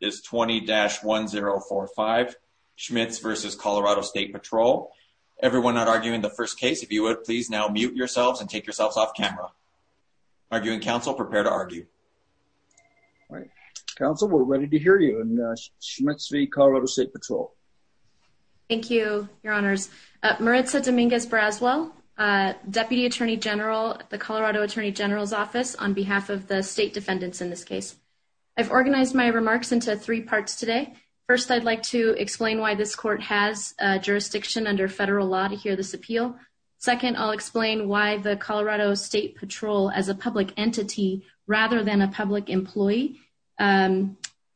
is 20-1045 Schmitz v. Colorado State Patrol. Everyone not arguing the first case, if you would please now mute yourselves and take yourselves off camera. Arguing Council, prepare to argue. All right, Council, we're ready to hear you on Schmitz v. Colorado State Patrol. Thank you, your honors. Maritza Dominguez-Braswell, Deputy Attorney General at the Colorado Attorney General's Office on behalf of the state defendants in this case. I've organized my remarks into three parts today. First, I'd like to explain why this court has jurisdiction under federal law to hear this appeal. Second, I'll explain why the Colorado State Patrol, as a public entity rather than a public employee,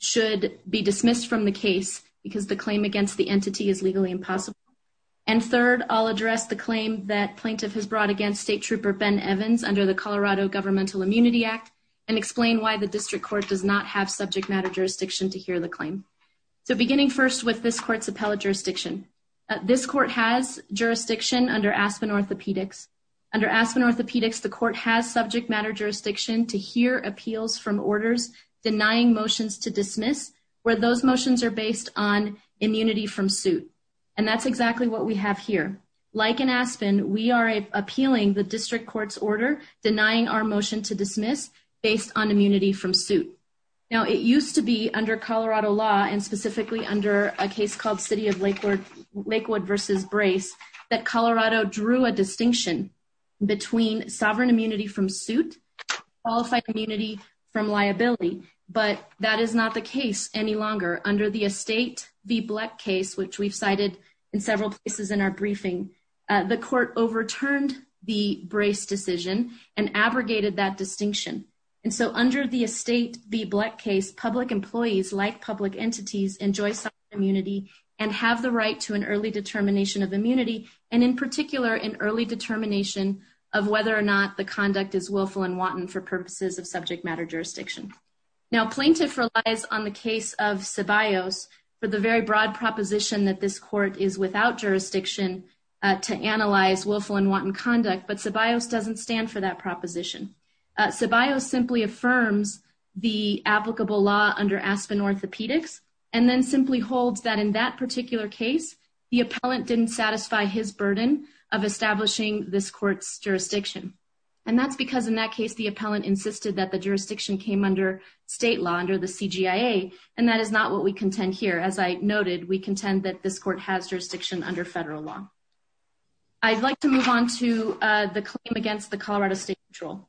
should be dismissed from the case because the claim against the entity is legally impossible. And third, I'll address the claim that plaintiff has brought against state trooper Ben Evans under the Colorado Governmental Immunity Act and explain why the district court does not have subject matter jurisdiction to hear the claim. So beginning first with this court's appellate jurisdiction, this court has jurisdiction under Aspen Orthopedics. Under Aspen Orthopedics, the court has subject matter jurisdiction to hear appeals from orders denying motions to dismiss where those motions are based on immunity from suit. And that's exactly what we have here. Like in Aspen, we are appealing the district court's order denying our motion to dismiss based on Now, it used to be under Colorado law and specifically under a case called City of Lakewood versus Brace that Colorado drew a distinction between sovereign immunity from suit, qualified immunity from liability, but that is not the case any longer. Under the Estate v. Bleck case, which we've cited in several places in our briefing, the court overturned the Brace decision and abrogated that distinction. And so under the Estate v. Bleck case, public employees like public entities enjoy sovereign immunity and have the right to an early determination of immunity, and in particular, an early determination of whether or not the conduct is willful and wanton for purposes of subject matter jurisdiction. Now, plaintiff relies on the case of Ceballos for the very broad proposition that this court is without jurisdiction to analyze willful and for that proposition. Ceballos simply affirms the applicable law under Aspen Orthopaedics and then simply holds that in that particular case, the appellant didn't satisfy his burden of establishing this court's jurisdiction. And that's because in that case, the appellant insisted that the jurisdiction came under state law, under the CGIA, and that is not what we contend here. As I noted, we contend that this court has jurisdiction under federal law. I'd like to move on to the claim against the Colorado State Patrol.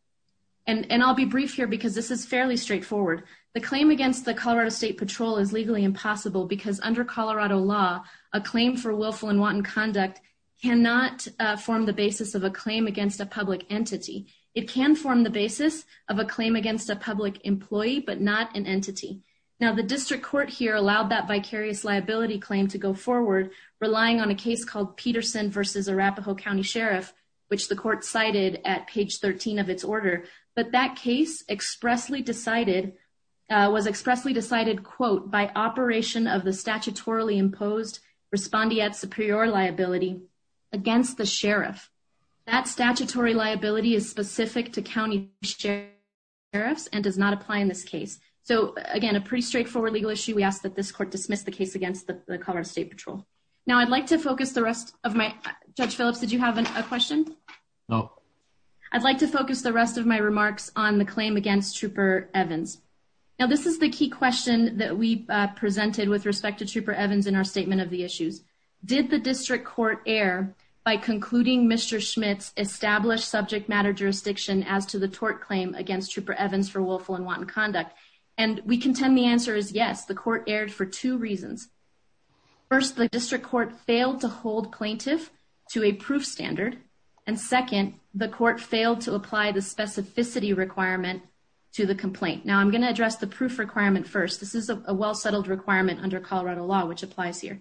And I'll be brief here because this is fairly straightforward. The claim against the Colorado State Patrol is legally impossible because under Colorado law, a claim for willful and wanton conduct cannot form the basis of a claim against a public entity. It can form the basis of a claim against a public employee but not an entity. Now, the district court here allowed that vicarious liability claim to go versus Arapahoe County Sheriff, which the court cited at page 13 of its order. But that case expressly decided, was expressly decided, quote, by operation of the statutorily imposed respondeat superior liability against the sheriff. That statutory liability is specific to county sheriffs and does not apply in this case. So again, a pretty straightforward legal issue. We ask that this court dismiss the case against the Colorado State Patrol. Now, I'd like to focus the rest of my, Judge Phillips, did you have a question? No. I'd like to focus the rest of my remarks on the claim against Trooper Evans. Now, this is the key question that we presented with respect to Trooper Evans in our statement of the issues. Did the district court err by concluding Mr. Schmidt's established subject matter jurisdiction as to the tort claim against Trooper Evans for willful and wanton conduct? And we contend the court erred for two reasons. First, the district court failed to hold plaintiff to a proof standard. And second, the court failed to apply the specificity requirement to the complaint. Now, I'm going to address the proof requirement first. This is a well-settled requirement under Colorado law, which applies here.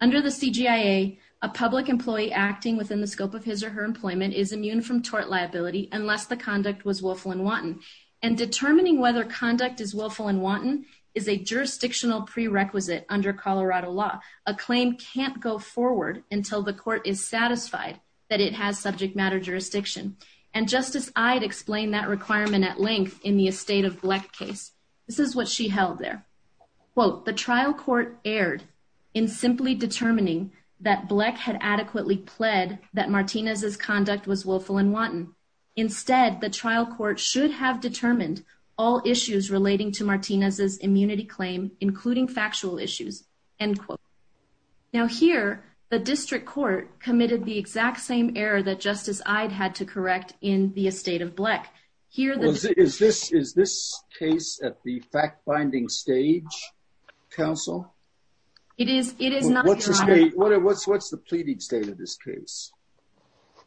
Under the CGIA, a public employee acting within the scope of his or her employment is immune from tort liability unless the conduct was willful and wanton. And determining whether conduct is willful and wanton is a jurisdictional prerequisite under Colorado law. A claim can't go forward until the court is satisfied that it has subject matter jurisdiction. And Justice Ide explained that requirement at length in the estate of Bleck case. This is what she held there. Quote, the trial court erred in simply determining that Bleck had adequately pled that Martinez's conduct was willful and wanton. Instead, the trial court should have determined all issues relating to Martinez's immunity claim, including factual issues. End quote. Now here, the district court committed the exact same error that Justice Ide had to correct in the estate of Bleck. Is this case at the fact-binding stage, counsel? It is not, Your Honor. What's the pleading state of this case?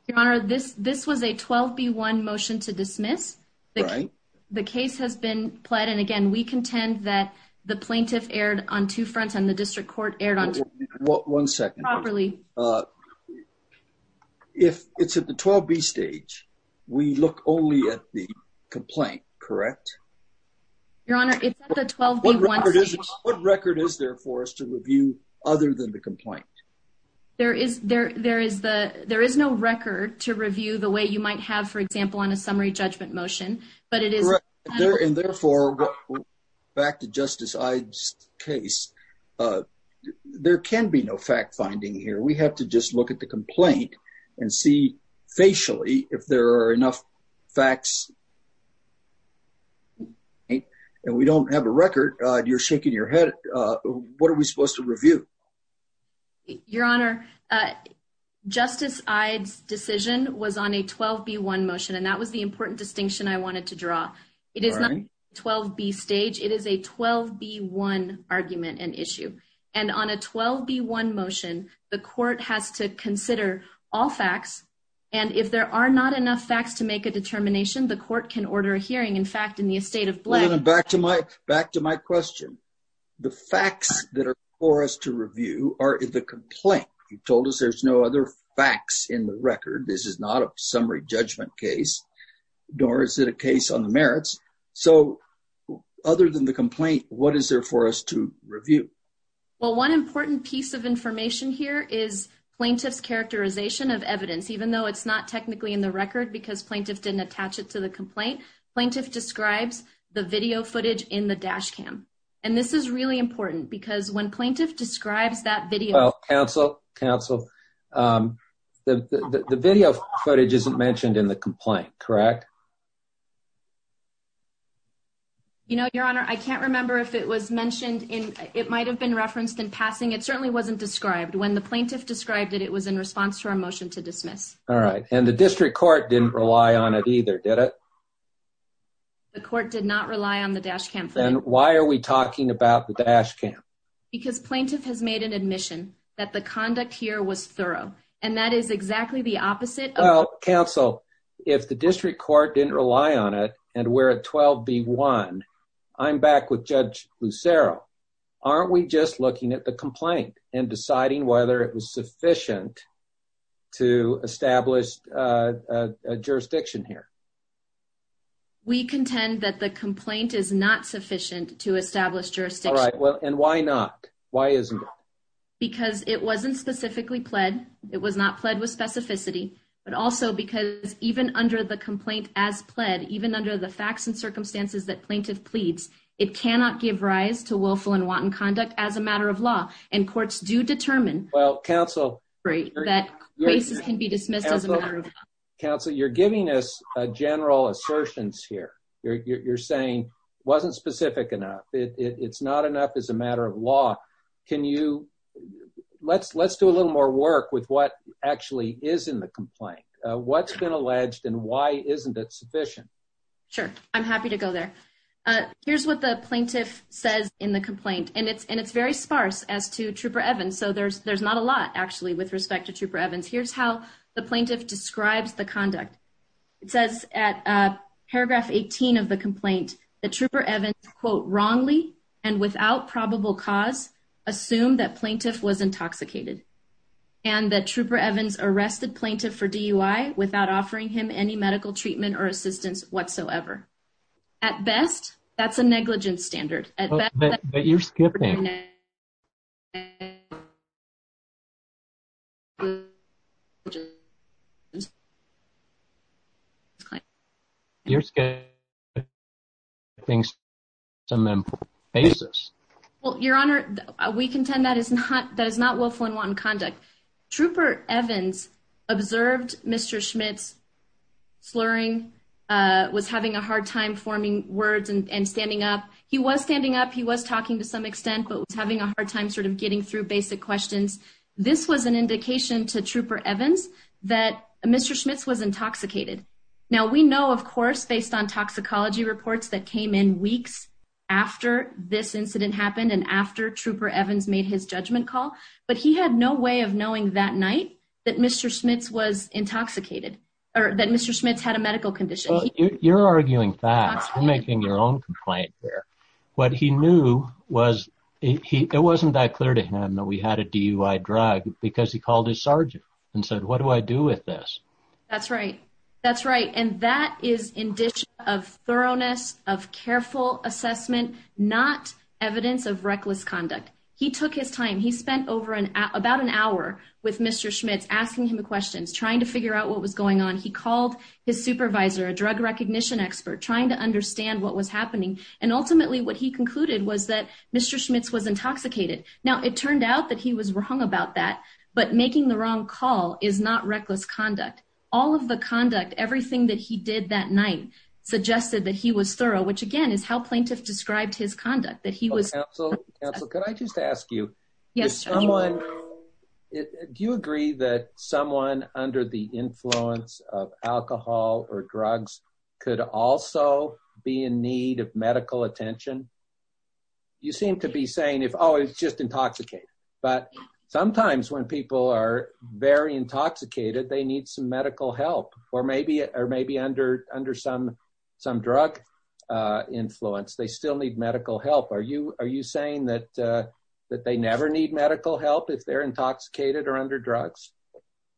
Your Honor, this was a 12-B-1 motion to dismiss. The case has been pled, and again, we contend that the plaintiff erred on two fronts and the district court erred on two fronts. One second. Properly. If it's at the 12-B stage, we look only at the complaint, correct? Your Honor, it's at the 12-B-1 stage. What record is there for us to review other than the complaint? There is no record to review the way you might have, for example, on a summary judgment motion. And therefore, back to Justice Ide's case, there can be no fact-finding here. We have to just look at the complaint and see facially if there are enough facts. Okay. And we don't have a record. You're shaking your head. What are we supposed to review? Your Honor, Justice Ide's decision was on a 12-B-1 motion, and that was the important distinction I wanted to draw. It is not 12-B stage. It is a 12-B-1 argument and issue. And on a 12-B-1 motion, the court has to consider all facts. And if there are not enough facts to make a determination, the court can order a hearing. In fact, in the estate of Black... Your Honor, back to my question. The facts that are for us to review are in the complaint. You told us there's no other facts in the record. This is not a summary judgment case, nor is it a case on the merits. So other than the complaint, what is there for us to review? Well, one important piece of information here is plaintiff's characterization of evidence. Even though it's not technically in the record because plaintiff didn't attach it to the complaint, plaintiff describes the video footage in the dash cam. And this is really important because when plaintiff describes that video... Well, counsel, counsel, the video footage isn't mentioned in the complaint, correct? You know, Your Honor, I can't remember if it was mentioned in... It might have been referenced in passing. It certainly wasn't described. When plaintiff described it, it was in response to our motion to dismiss. All right. And the district court didn't rely on it either, did it? The court did not rely on the dash cam. Then why are we talking about the dash cam? Because plaintiff has made an admission that the conduct here was thorough. And that is exactly the opposite. Well, counsel, if the district court didn't rely on it and we're at 12B1, I'm back with Judge Lucero. Aren't we just looking at the complaint and it was sufficient to establish a jurisdiction here? We contend that the complaint is not sufficient to establish jurisdiction. All right. Well, and why not? Why isn't it? Because it wasn't specifically pled. It was not pled with specificity. But also because even under the complaint as pled, even under the facts and circumstances that plaintiff pleads, it cannot give rise to willful and wanton conduct as a matter of law. And courts do determine that cases can be dismissed as a matter of law. Counsel, you're giving us general assertions here. You're saying it wasn't specific enough. It's not enough as a matter of law. Let's do a little more work with what actually is in the complaint. What's been alleged and why isn't it sufficient? Sure. I'm happy to go there. Here's what the plaintiff says in the complaint. And it's very sparse as to Trooper Evans. So there's not a lot, actually, with respect to Trooper Evans. Here's how the plaintiff describes the conduct. It says at paragraph 18 of the complaint that Trooper Evans, quote, wrongly and without probable cause, assumed that plaintiff was intoxicated and that Trooper Evans arrested plaintiff for DUI without offering him any medical treatment or assistance whatsoever. At best, that's a negligent standard. But you're skipping. You're skipping things on a monthly basis. Well, Your Honor, we contend that is not conduct. Trooper Evans observed Mr. Schmitz slurring, was having a hard time forming words and standing up. He was standing up. He was talking to some extent, but was having a hard time sort of getting through basic questions. This was an indication to Trooper Evans that Mr. Schmitz was intoxicated. Now, we know, of course, based on toxicology reports that came in but he had no way of knowing that night that Mr. Schmitz was intoxicated or that Mr. Schmitz had a medical condition. You're arguing that. You're making your own complaint here. What he knew was it wasn't that clear to him that we had a DUI drug because he called his sergeant and said, what do I do with this? That's right. That's right. And that is indiction of thoroughness, of careful assessment, not evidence of reckless conduct. He took his time. He spent about an hour with Mr. Schmitz, asking him questions, trying to figure out what was going on. He called his supervisor, a drug recognition expert, trying to understand what was happening. And ultimately, what he concluded was that Mr. Schmitz was intoxicated. Now, it turned out that he was wrong about that. But making the wrong call is not reckless conduct. All of the conduct, everything that he did that night, suggested that he was thorough, which again is how plaintiff described his conduct, that he was... Counselor, could I just ask you, do you agree that someone under the influence of alcohol or drugs could also be in need of medical attention? You seem to be saying if, oh, it's just intoxicated. But sometimes when people are very intoxicated, they need some medical help. Or maybe under some drug influence, they still need medical help. Are you saying that they never need medical help if they're intoxicated or under drugs?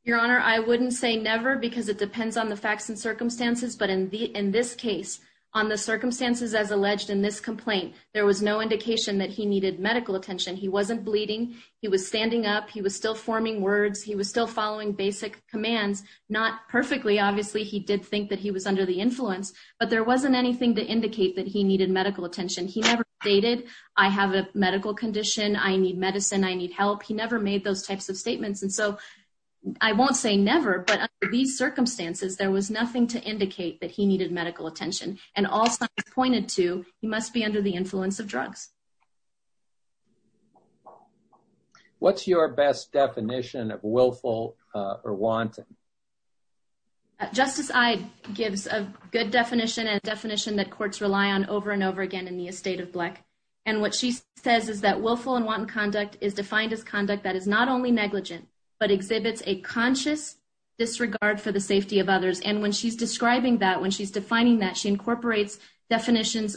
Your Honor, I wouldn't say never because it depends on the facts and circumstances. But in this case, on the circumstances as alleged in this complaint, there was no indication that he needed medical attention. He wasn't bleeding. He was standing up. He was still forming words. He was still following basic commands, not perfectly. Obviously, he did think that he was under the influence, but there wasn't anything to indicate that he needed medical attention. He never stated, I have a medical condition, I need medicine, I need help. He never made those types of statements. And so I won't say never, but under these circumstances, there was nothing to indicate that he needed medical attention. And all signs pointed to, he must be under the influence of alcohol. What's your best definition of willful or wanton? Justice Ide gives a good definition and definition that courts rely on over and over again in the estate of black. And what she says is that willful and wanton conduct is defined as conduct that is not only negligent, but exhibits a conscious disregard for the safety of others. And when she's describing that, when she's defining that, she incorporates definitions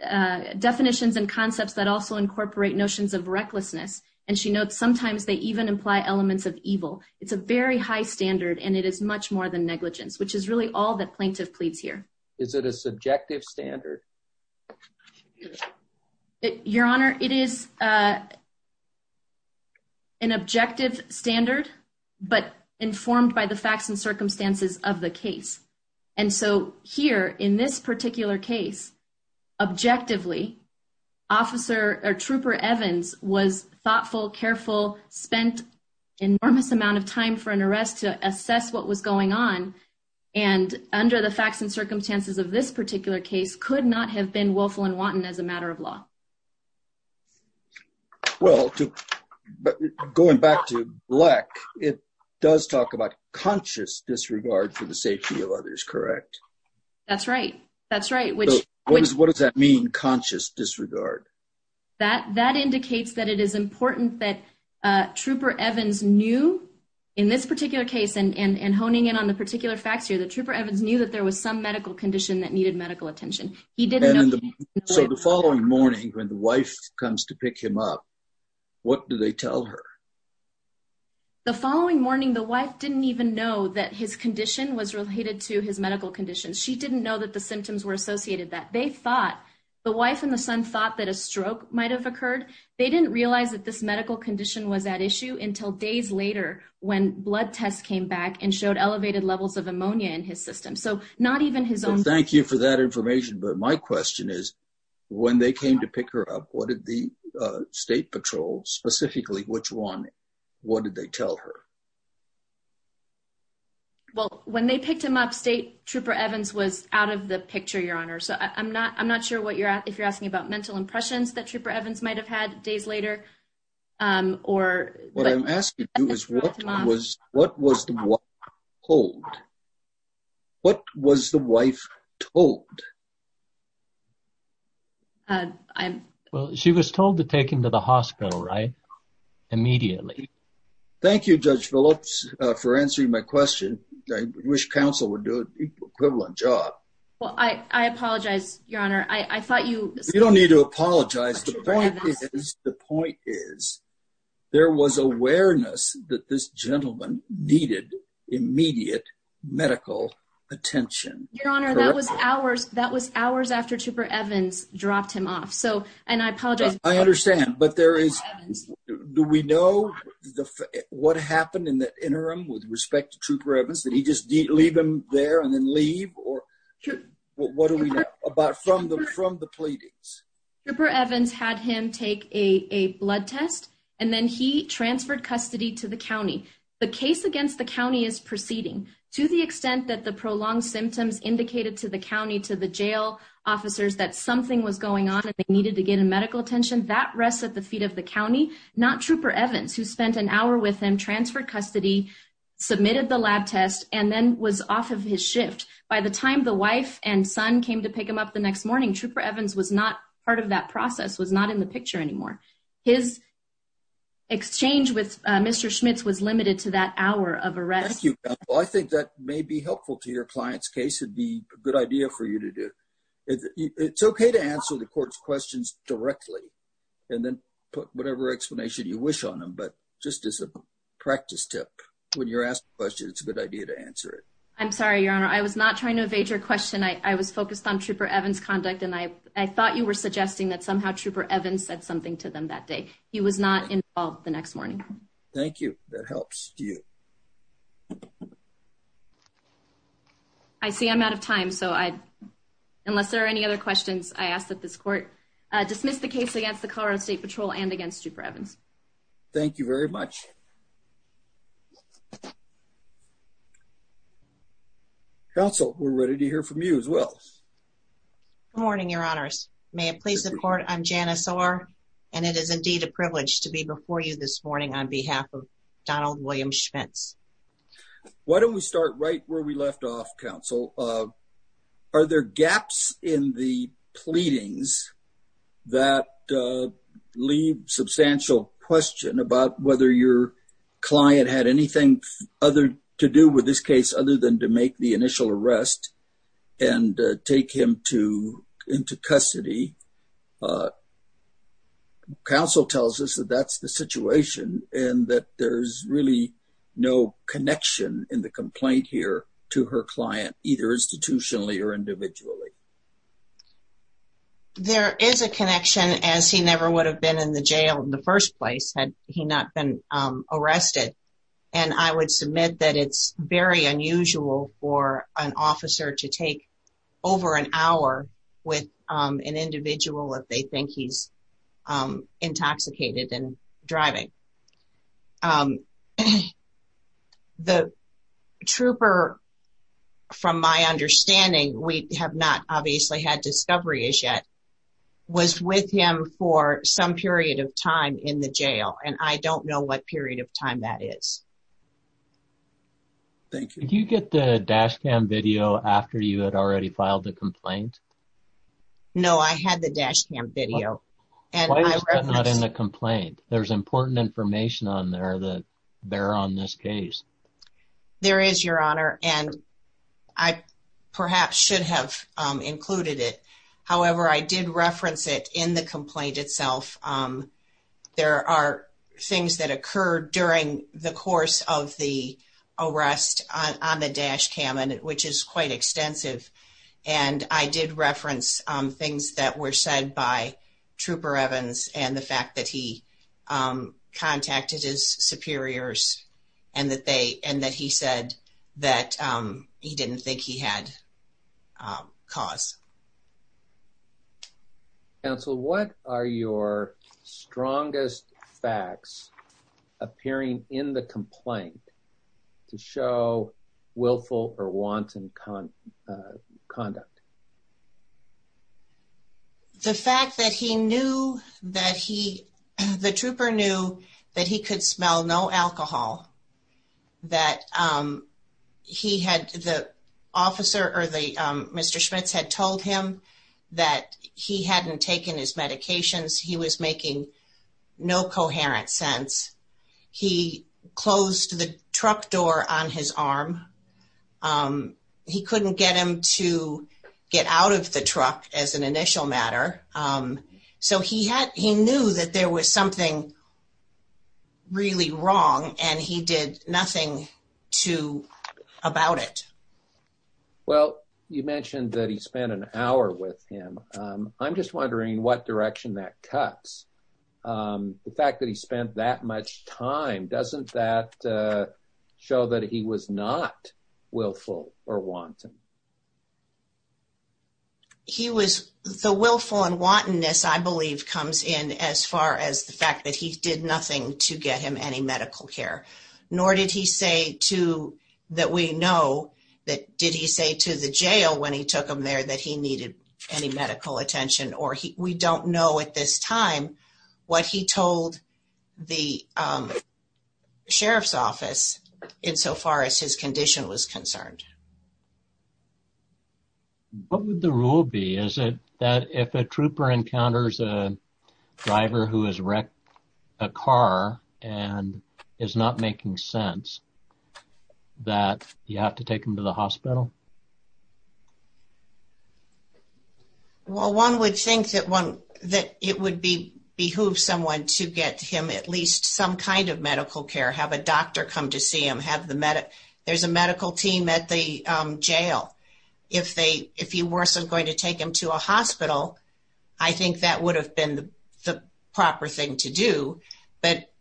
and concepts that also incorporate notions of recklessness. And she notes, sometimes they even imply elements of evil. It's a very high standard, and it is much more than negligence, which is really all that plaintiff pleads here. Is it a subjective standard? Your Honor, it is an objective standard, but informed by the facts and circumstances of the case. And so here in this particular case, objectively, Officer or Trooper Evans was thoughtful, careful, spent enormous amount of time for an arrest to assess what was going on. And under the facts and circumstances of this particular case could not have been willful and wanton as a matter of law. Well, going back to it does talk about conscious disregard for the safety of others, correct? That's right. That's right. What does that mean, conscious disregard? That indicates that it is important that Trooper Evans knew in this particular case, and honing in on the particular facts here, that Trooper Evans knew that there was some medical condition that needed medical attention. He didn't know. So the following morning, when the wife comes to pick him up, what do they tell her? The following morning, the wife didn't even know that his condition was related to his medical condition. She didn't know that the symptoms were associated that. They thought, the wife and the son thought that a stroke might have occurred. They didn't realize that this medical condition was at issue until days later, when blood tests came back and showed elevated levels of ammonia in his system. So not even his own. Thank you for that information. But my question is, when they came to pick her up, what did the State Patrol, specifically which one, what did they tell her? Well, when they picked him up, State Trooper Evans was out of the picture, Your Honor. So I'm not sure if you're asking about mental impressions that Trooper Evans might have had days later, or... What I'm asking you is, what was the wife told? Well, she was told to take him to the hospital, right? Immediately. Thank you, Judge Phillips, for answering my question. I wish counsel would do an equivalent job. Well, I apologize, Your Honor. I thought you... You don't need to apologize. The point is, the point is, there was awareness that this gentleman needed immediate medical attention. Your Honor, that was hours after Trooper Evans dropped him off. So, and I apologize. I understand, but there is... Do we know what happened in the interim with respect to Trooper Evans? Did he just leave him there and then leave? Or what do we know about from the pleadings? Trooper Evans had him take a blood test and then he transferred custody to the county. The case against the county is proceeding. To the extent that the prolonged symptoms indicated to the county, to the jail officers, that something was going on and they needed to get a medical attention, that rests at the feet of the county. Not Trooper Evans, who spent an hour with him, transferred custody, submitted the lab test, and then was off of his shift. By the time the wife and son came to pick him up the exchange with Mr. Schmitz was limited to that hour of arrest. Well, I think that may be helpful to your client's case. It'd be a good idea for you to do. It's okay to answer the court's questions directly and then put whatever explanation you wish on them. But just as a practice tip, when you're asked a question, it's a good idea to answer it. I'm sorry, Your Honor. I was not trying to evade your question. I was focused on Trooper Evans' conduct and I thought you were suggesting that somehow Trooper Evans said something to them that day. He was not involved the next morning. Thank you. That helps you. I see I'm out of time, so unless there are any other questions, I ask that this court dismiss the case against the Colorado State Patrol and against Trooper Evans. Thank you very much. Counsel, we're ready to hear from you as well. Good morning, Your Honors. May it please the court, I'm Janice Orr, and it is indeed a privilege to be before you this morning on behalf of Donald William Schmitz. Why don't we start right where we left off, Counsel? Are there gaps in the pleadings that leave substantial question about whether your client had anything other to do with this arrest and take him into custody? Counsel tells us that that's the situation and that there's really no connection in the complaint here to her client, either institutionally or individually. There is a connection, as he never would have been in the jail in the first place had he not been arrested, and I would submit that it's very unusual for an officer to take over an hour with an individual if they think he's intoxicated and driving. The trooper, from my understanding, we have not obviously had discovery as yet, was with him for some period of time in the jail, and I don't know what period of time that is. Thank you. Did you get the dash cam video after you had already filed the complaint? No, I had the dash cam video. Why is that not in the complaint? There's important information on there that they're on this case. There is, Your Honor, and I perhaps should have included it. However, I did reference it in the complaint itself. There are things that occurred during the course of the arrest on the dash cam, which is quite extensive, and I did reference things that were said by Trooper Evans and the fact that he contacted his superiors and that he said that he didn't think he had cause. Counsel, what are your strongest facts appearing in the complaint to show willful or wanton conduct? The fact that he knew that he, the trooper knew that he could smell no alcohol, that he had, the officer or the Mr. Schmitz had told him that he hadn't taken his medications. He was making no coherent sense. He closed the truck door on his arm. He couldn't get him to get out of the truck as an initial matter, so he knew that there was something really wrong, and he did nothing about it. Well, you mentioned that he spent an hour with him. I'm just wondering what direction that cuts. The fact that he spent that much time, doesn't that show that he was not willful or wanton? He was, the willful and wantonness, I believe, comes in as far as the fact that he did nothing to get him any medical care, nor did he say to, that we know that, did he say to the jail when he took him there that he needed any medical attention, or we don't know at this time what he told the sheriff's office insofar as his condition was concerned. What would the rule be? Is it that if a trooper encounters a driver who has wrecked a car and is not making sense, that you have to take him to the hospital? Well, one would think that it would behoove someone to get him at least some kind of medical attention. If he wasn't going to take him to a hospital, I think that would have been the proper thing to do. But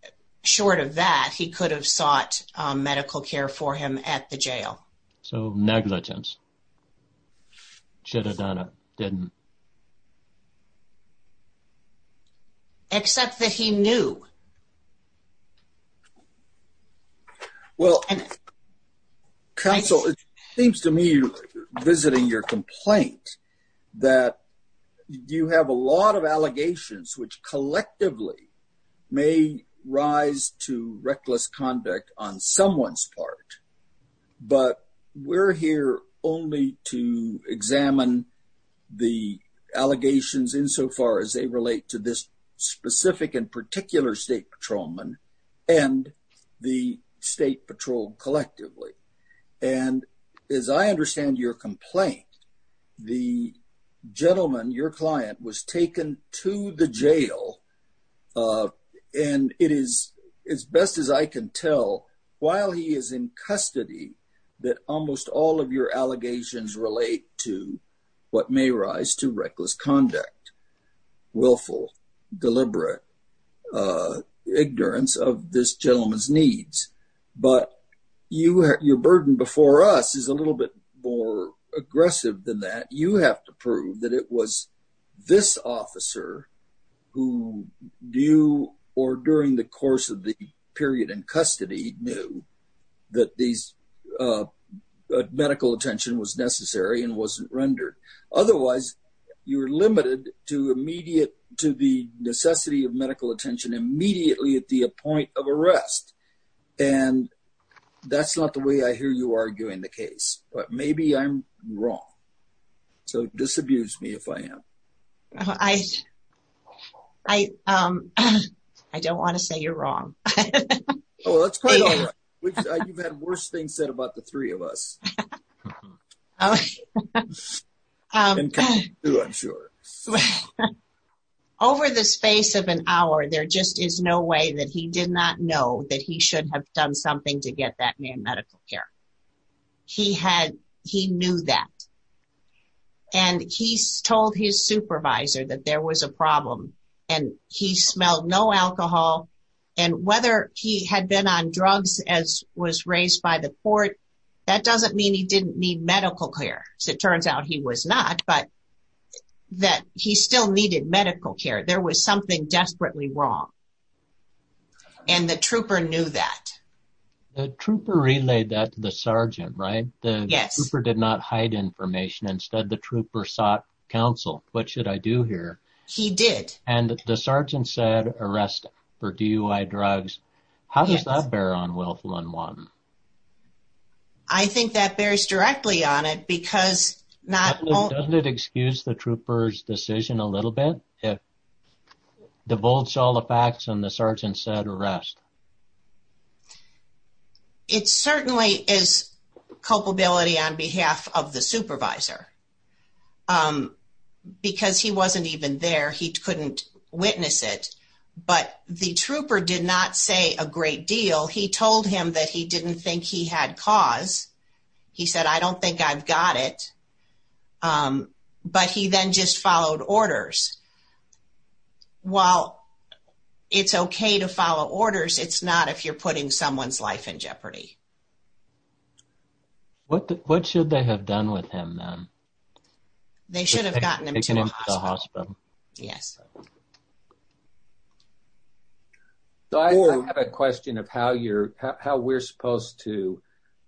short of that, he could have sought medical care for him at the jail. So negligence. Chittadonna didn't. Except that he knew. Well, counsel, it seems to me you're visiting your complaint, that you have a lot of allegations which collectively may rise to reckless conduct on someone's part. But we're here only to examine the allegations insofar as they relate to this specific and particular state patrolman and the state patrol collectively. And as I understand your complaint, the gentleman, your client, was taken to the jail. And it is as best as I can tell, while he is in custody, that almost all of your allegations relate to what may rise to reckless conduct, willful, deliberate ignorance of this gentleman's needs. But your burden before us is a little bit more aggressive than that. You have to prove that it was this officer who knew, or during the course of the period in custody, knew that medical attention was necessary and wasn't rendered. Otherwise, you're limited to the necessity of medical attention immediately at the point of arrest. And that's not the way I hear you arguing the case. But maybe I'm wrong. So disabuse me if I am. I don't want to say you're wrong. Oh, that's quite all right. You've had worse things said about the three of us. Over the space of an hour, there just is no way that he did not know that he should have done something to get that man medical care. He knew that. And he told his supervisor that there was a problem. And he smelled no alcohol. And whether he had been on drugs as was raised by the court, that doesn't mean he didn't need medical care. So it turns out he was not, but that he still needed medical care. There was something desperately wrong. And the trooper knew that. The trooper relayed that to the sergeant, right? Yes. The trooper did not hide information. Instead, the trooper sought counsel. What should I do here? He did. And the sergeant said, arrest for DUI drugs. How does that bear on Wealth 101? I think that bears directly on it because not only... And the sergeant said, arrest. It certainly is culpability on behalf of the supervisor. Because he wasn't even there, he couldn't witness it. But the trooper did not say a great deal. He told him that he didn't think he had cause. He said, I don't think I've got it. But he then just followed orders. While it's okay to follow orders, it's not if you're putting someone's life in jeopardy. What should they have done with him then? They should have gotten him to a hospital. Yes. So I have a question of how we're supposed to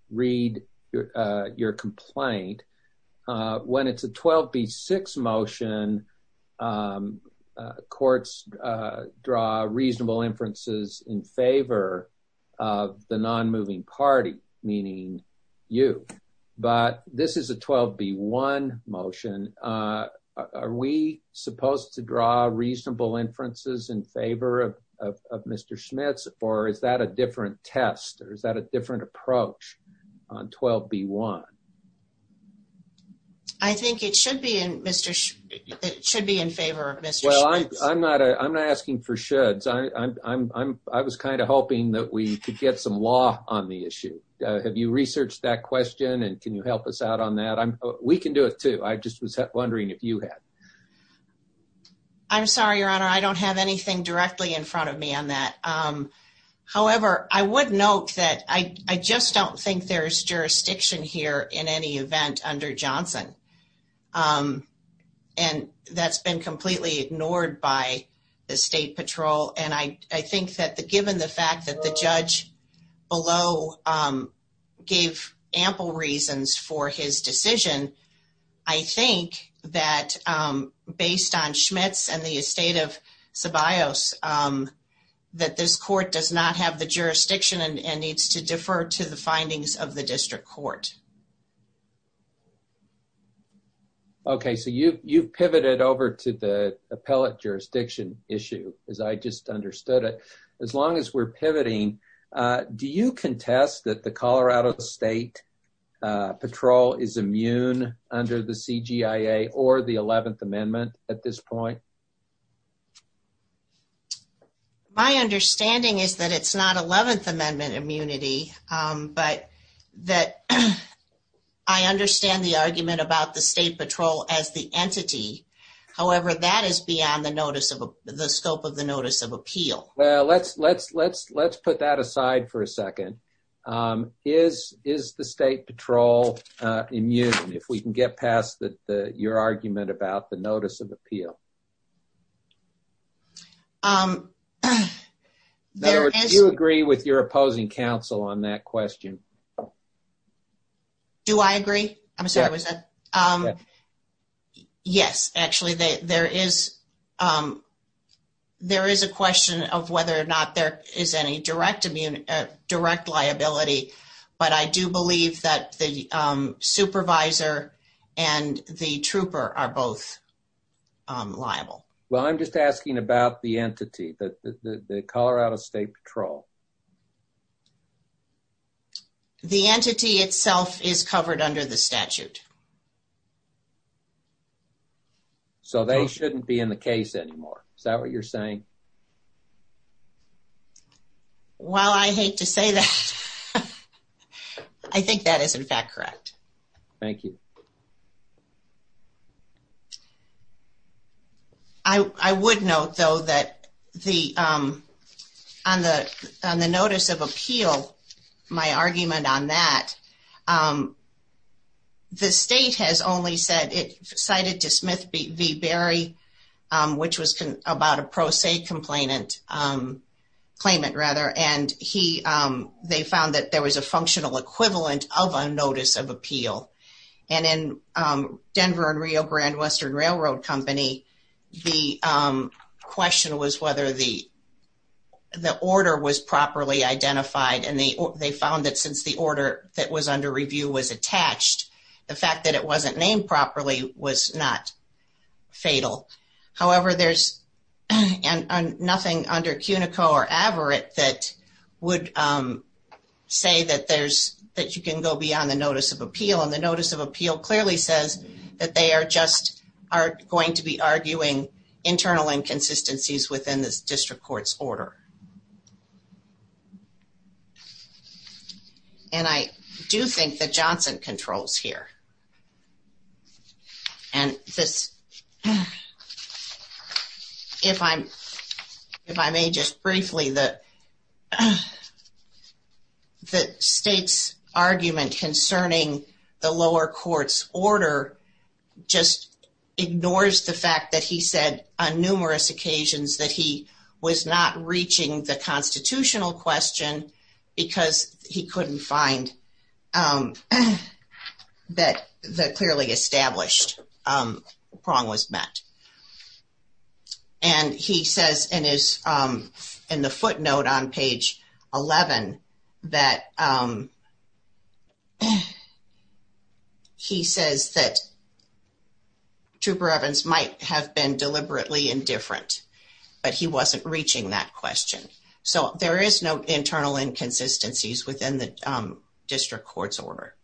read your complaint. When it's a 12B6 motion, courts draw reasonable inferences in favor of the non-moving party, meaning you. But this is a 12B1 motion. Are we supposed to draw reasonable inferences in favor of Mr. Schmitz? Or is that a different test? Or is that a different approach on 12B1? I think it should be in favor of Mr. Schmitz. Well, I'm not asking for shoulds. I was kind of hoping that we could get some law on the issue. Have you researched that question? And can you help us out on that? We can do it too. I just was wondering if you had. I'm sorry, Your Honor. I don't have anything directly in front of me on that. However, I would note that I just don't think there's jurisdiction here in any event under Johnson. And that's been completely ignored by the state patrol. And I think that given the fact that the judge below gave ample reasons for his decision, I think that based on Schmitz and the estate of and needs to defer to the findings of the district court. Okay. So you've pivoted over to the appellate jurisdiction issue, as I just understood it. As long as we're pivoting, do you contest that the Colorado State patrol is immune under the CGIA or the 11th Amendment at this point? My understanding is that it's not 11th Amendment immunity, but that I understand the argument about the state patrol as the entity. However, that is beyond the scope of the notice of appeal. Well, let's put that aside for a second. Is the state patrol immune, if we can get past your argument about the notice of appeal? In other words, do you agree with your opposing counsel on that question? Do I agree? I'm sorry, was that? Yes, actually. There is a question of whether or not there is any direct liability, but I do believe that the supervisor and the trooper are both liable. Well, I'm just asking about the entity, the Colorado State Patrol. The entity itself is covered under the statute. So they shouldn't be in the case anymore? Is that what you're saying? Well, I hate to say that. I think that is, in fact, correct. Thank you. I would note, though, that on the notice of appeal, my argument on that, the state has only said, it cited to Smith v. Berry, which was about a pro se complainant, claimant rather, and they found that there was a functional equivalent of a notice of appeal. And in Denver and Rio Grande Western Railroad Company, the question was whether the order was under review was attached. The fact that it wasn't named properly was not fatal. However, there's nothing under CUNICO or Averitt that would say that you can go beyond the notice of appeal. And the notice of appeal clearly says that they are just going to be arguing internal inconsistencies within this district court's order. And I do think that Johnson controls here. And this, if I'm, if I may just briefly, the the state's argument concerning the lower court's order just ignores the fact that he said on numerous occasions that he was not reaching the constitutional question because he couldn't find that the clearly established prong was met. And he says in his, in the footnote on page 11, that he says that Trooper Evans might have been deliberately indifferent, but he wasn't reaching that question. So there is no internal inconsistencies within the district court's order.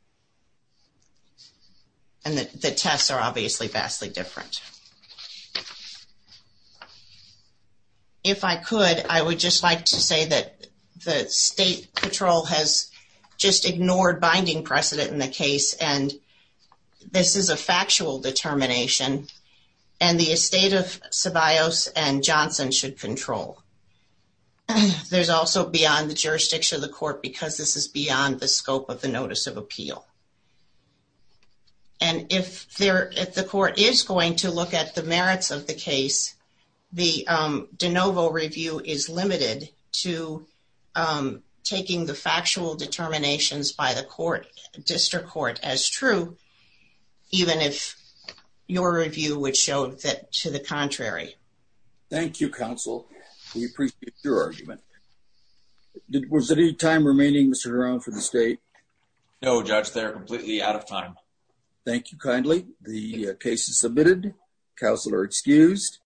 And the tests are obviously vastly different. If I could, I would just like to say that the state patrol has just ignored binding precedent in the case. And this is a factual determination and the estate of Ceballos and Johnson should control. There's also beyond the jurisdiction of the court because this is beyond the scope of the notice of appeal. And if there, if the court is going to look at the merits of the case, the DeNovo review is limited to taking the factual determinations by the court, district court as true, even if your review would show that to the contrary. Thank you, counsel. We appreciate your argument. Was there any time remaining, Mr. Jerome, for the state? No, judge, they're completely out of time. Thank you kindly. The case is submitted. Counsel are excused.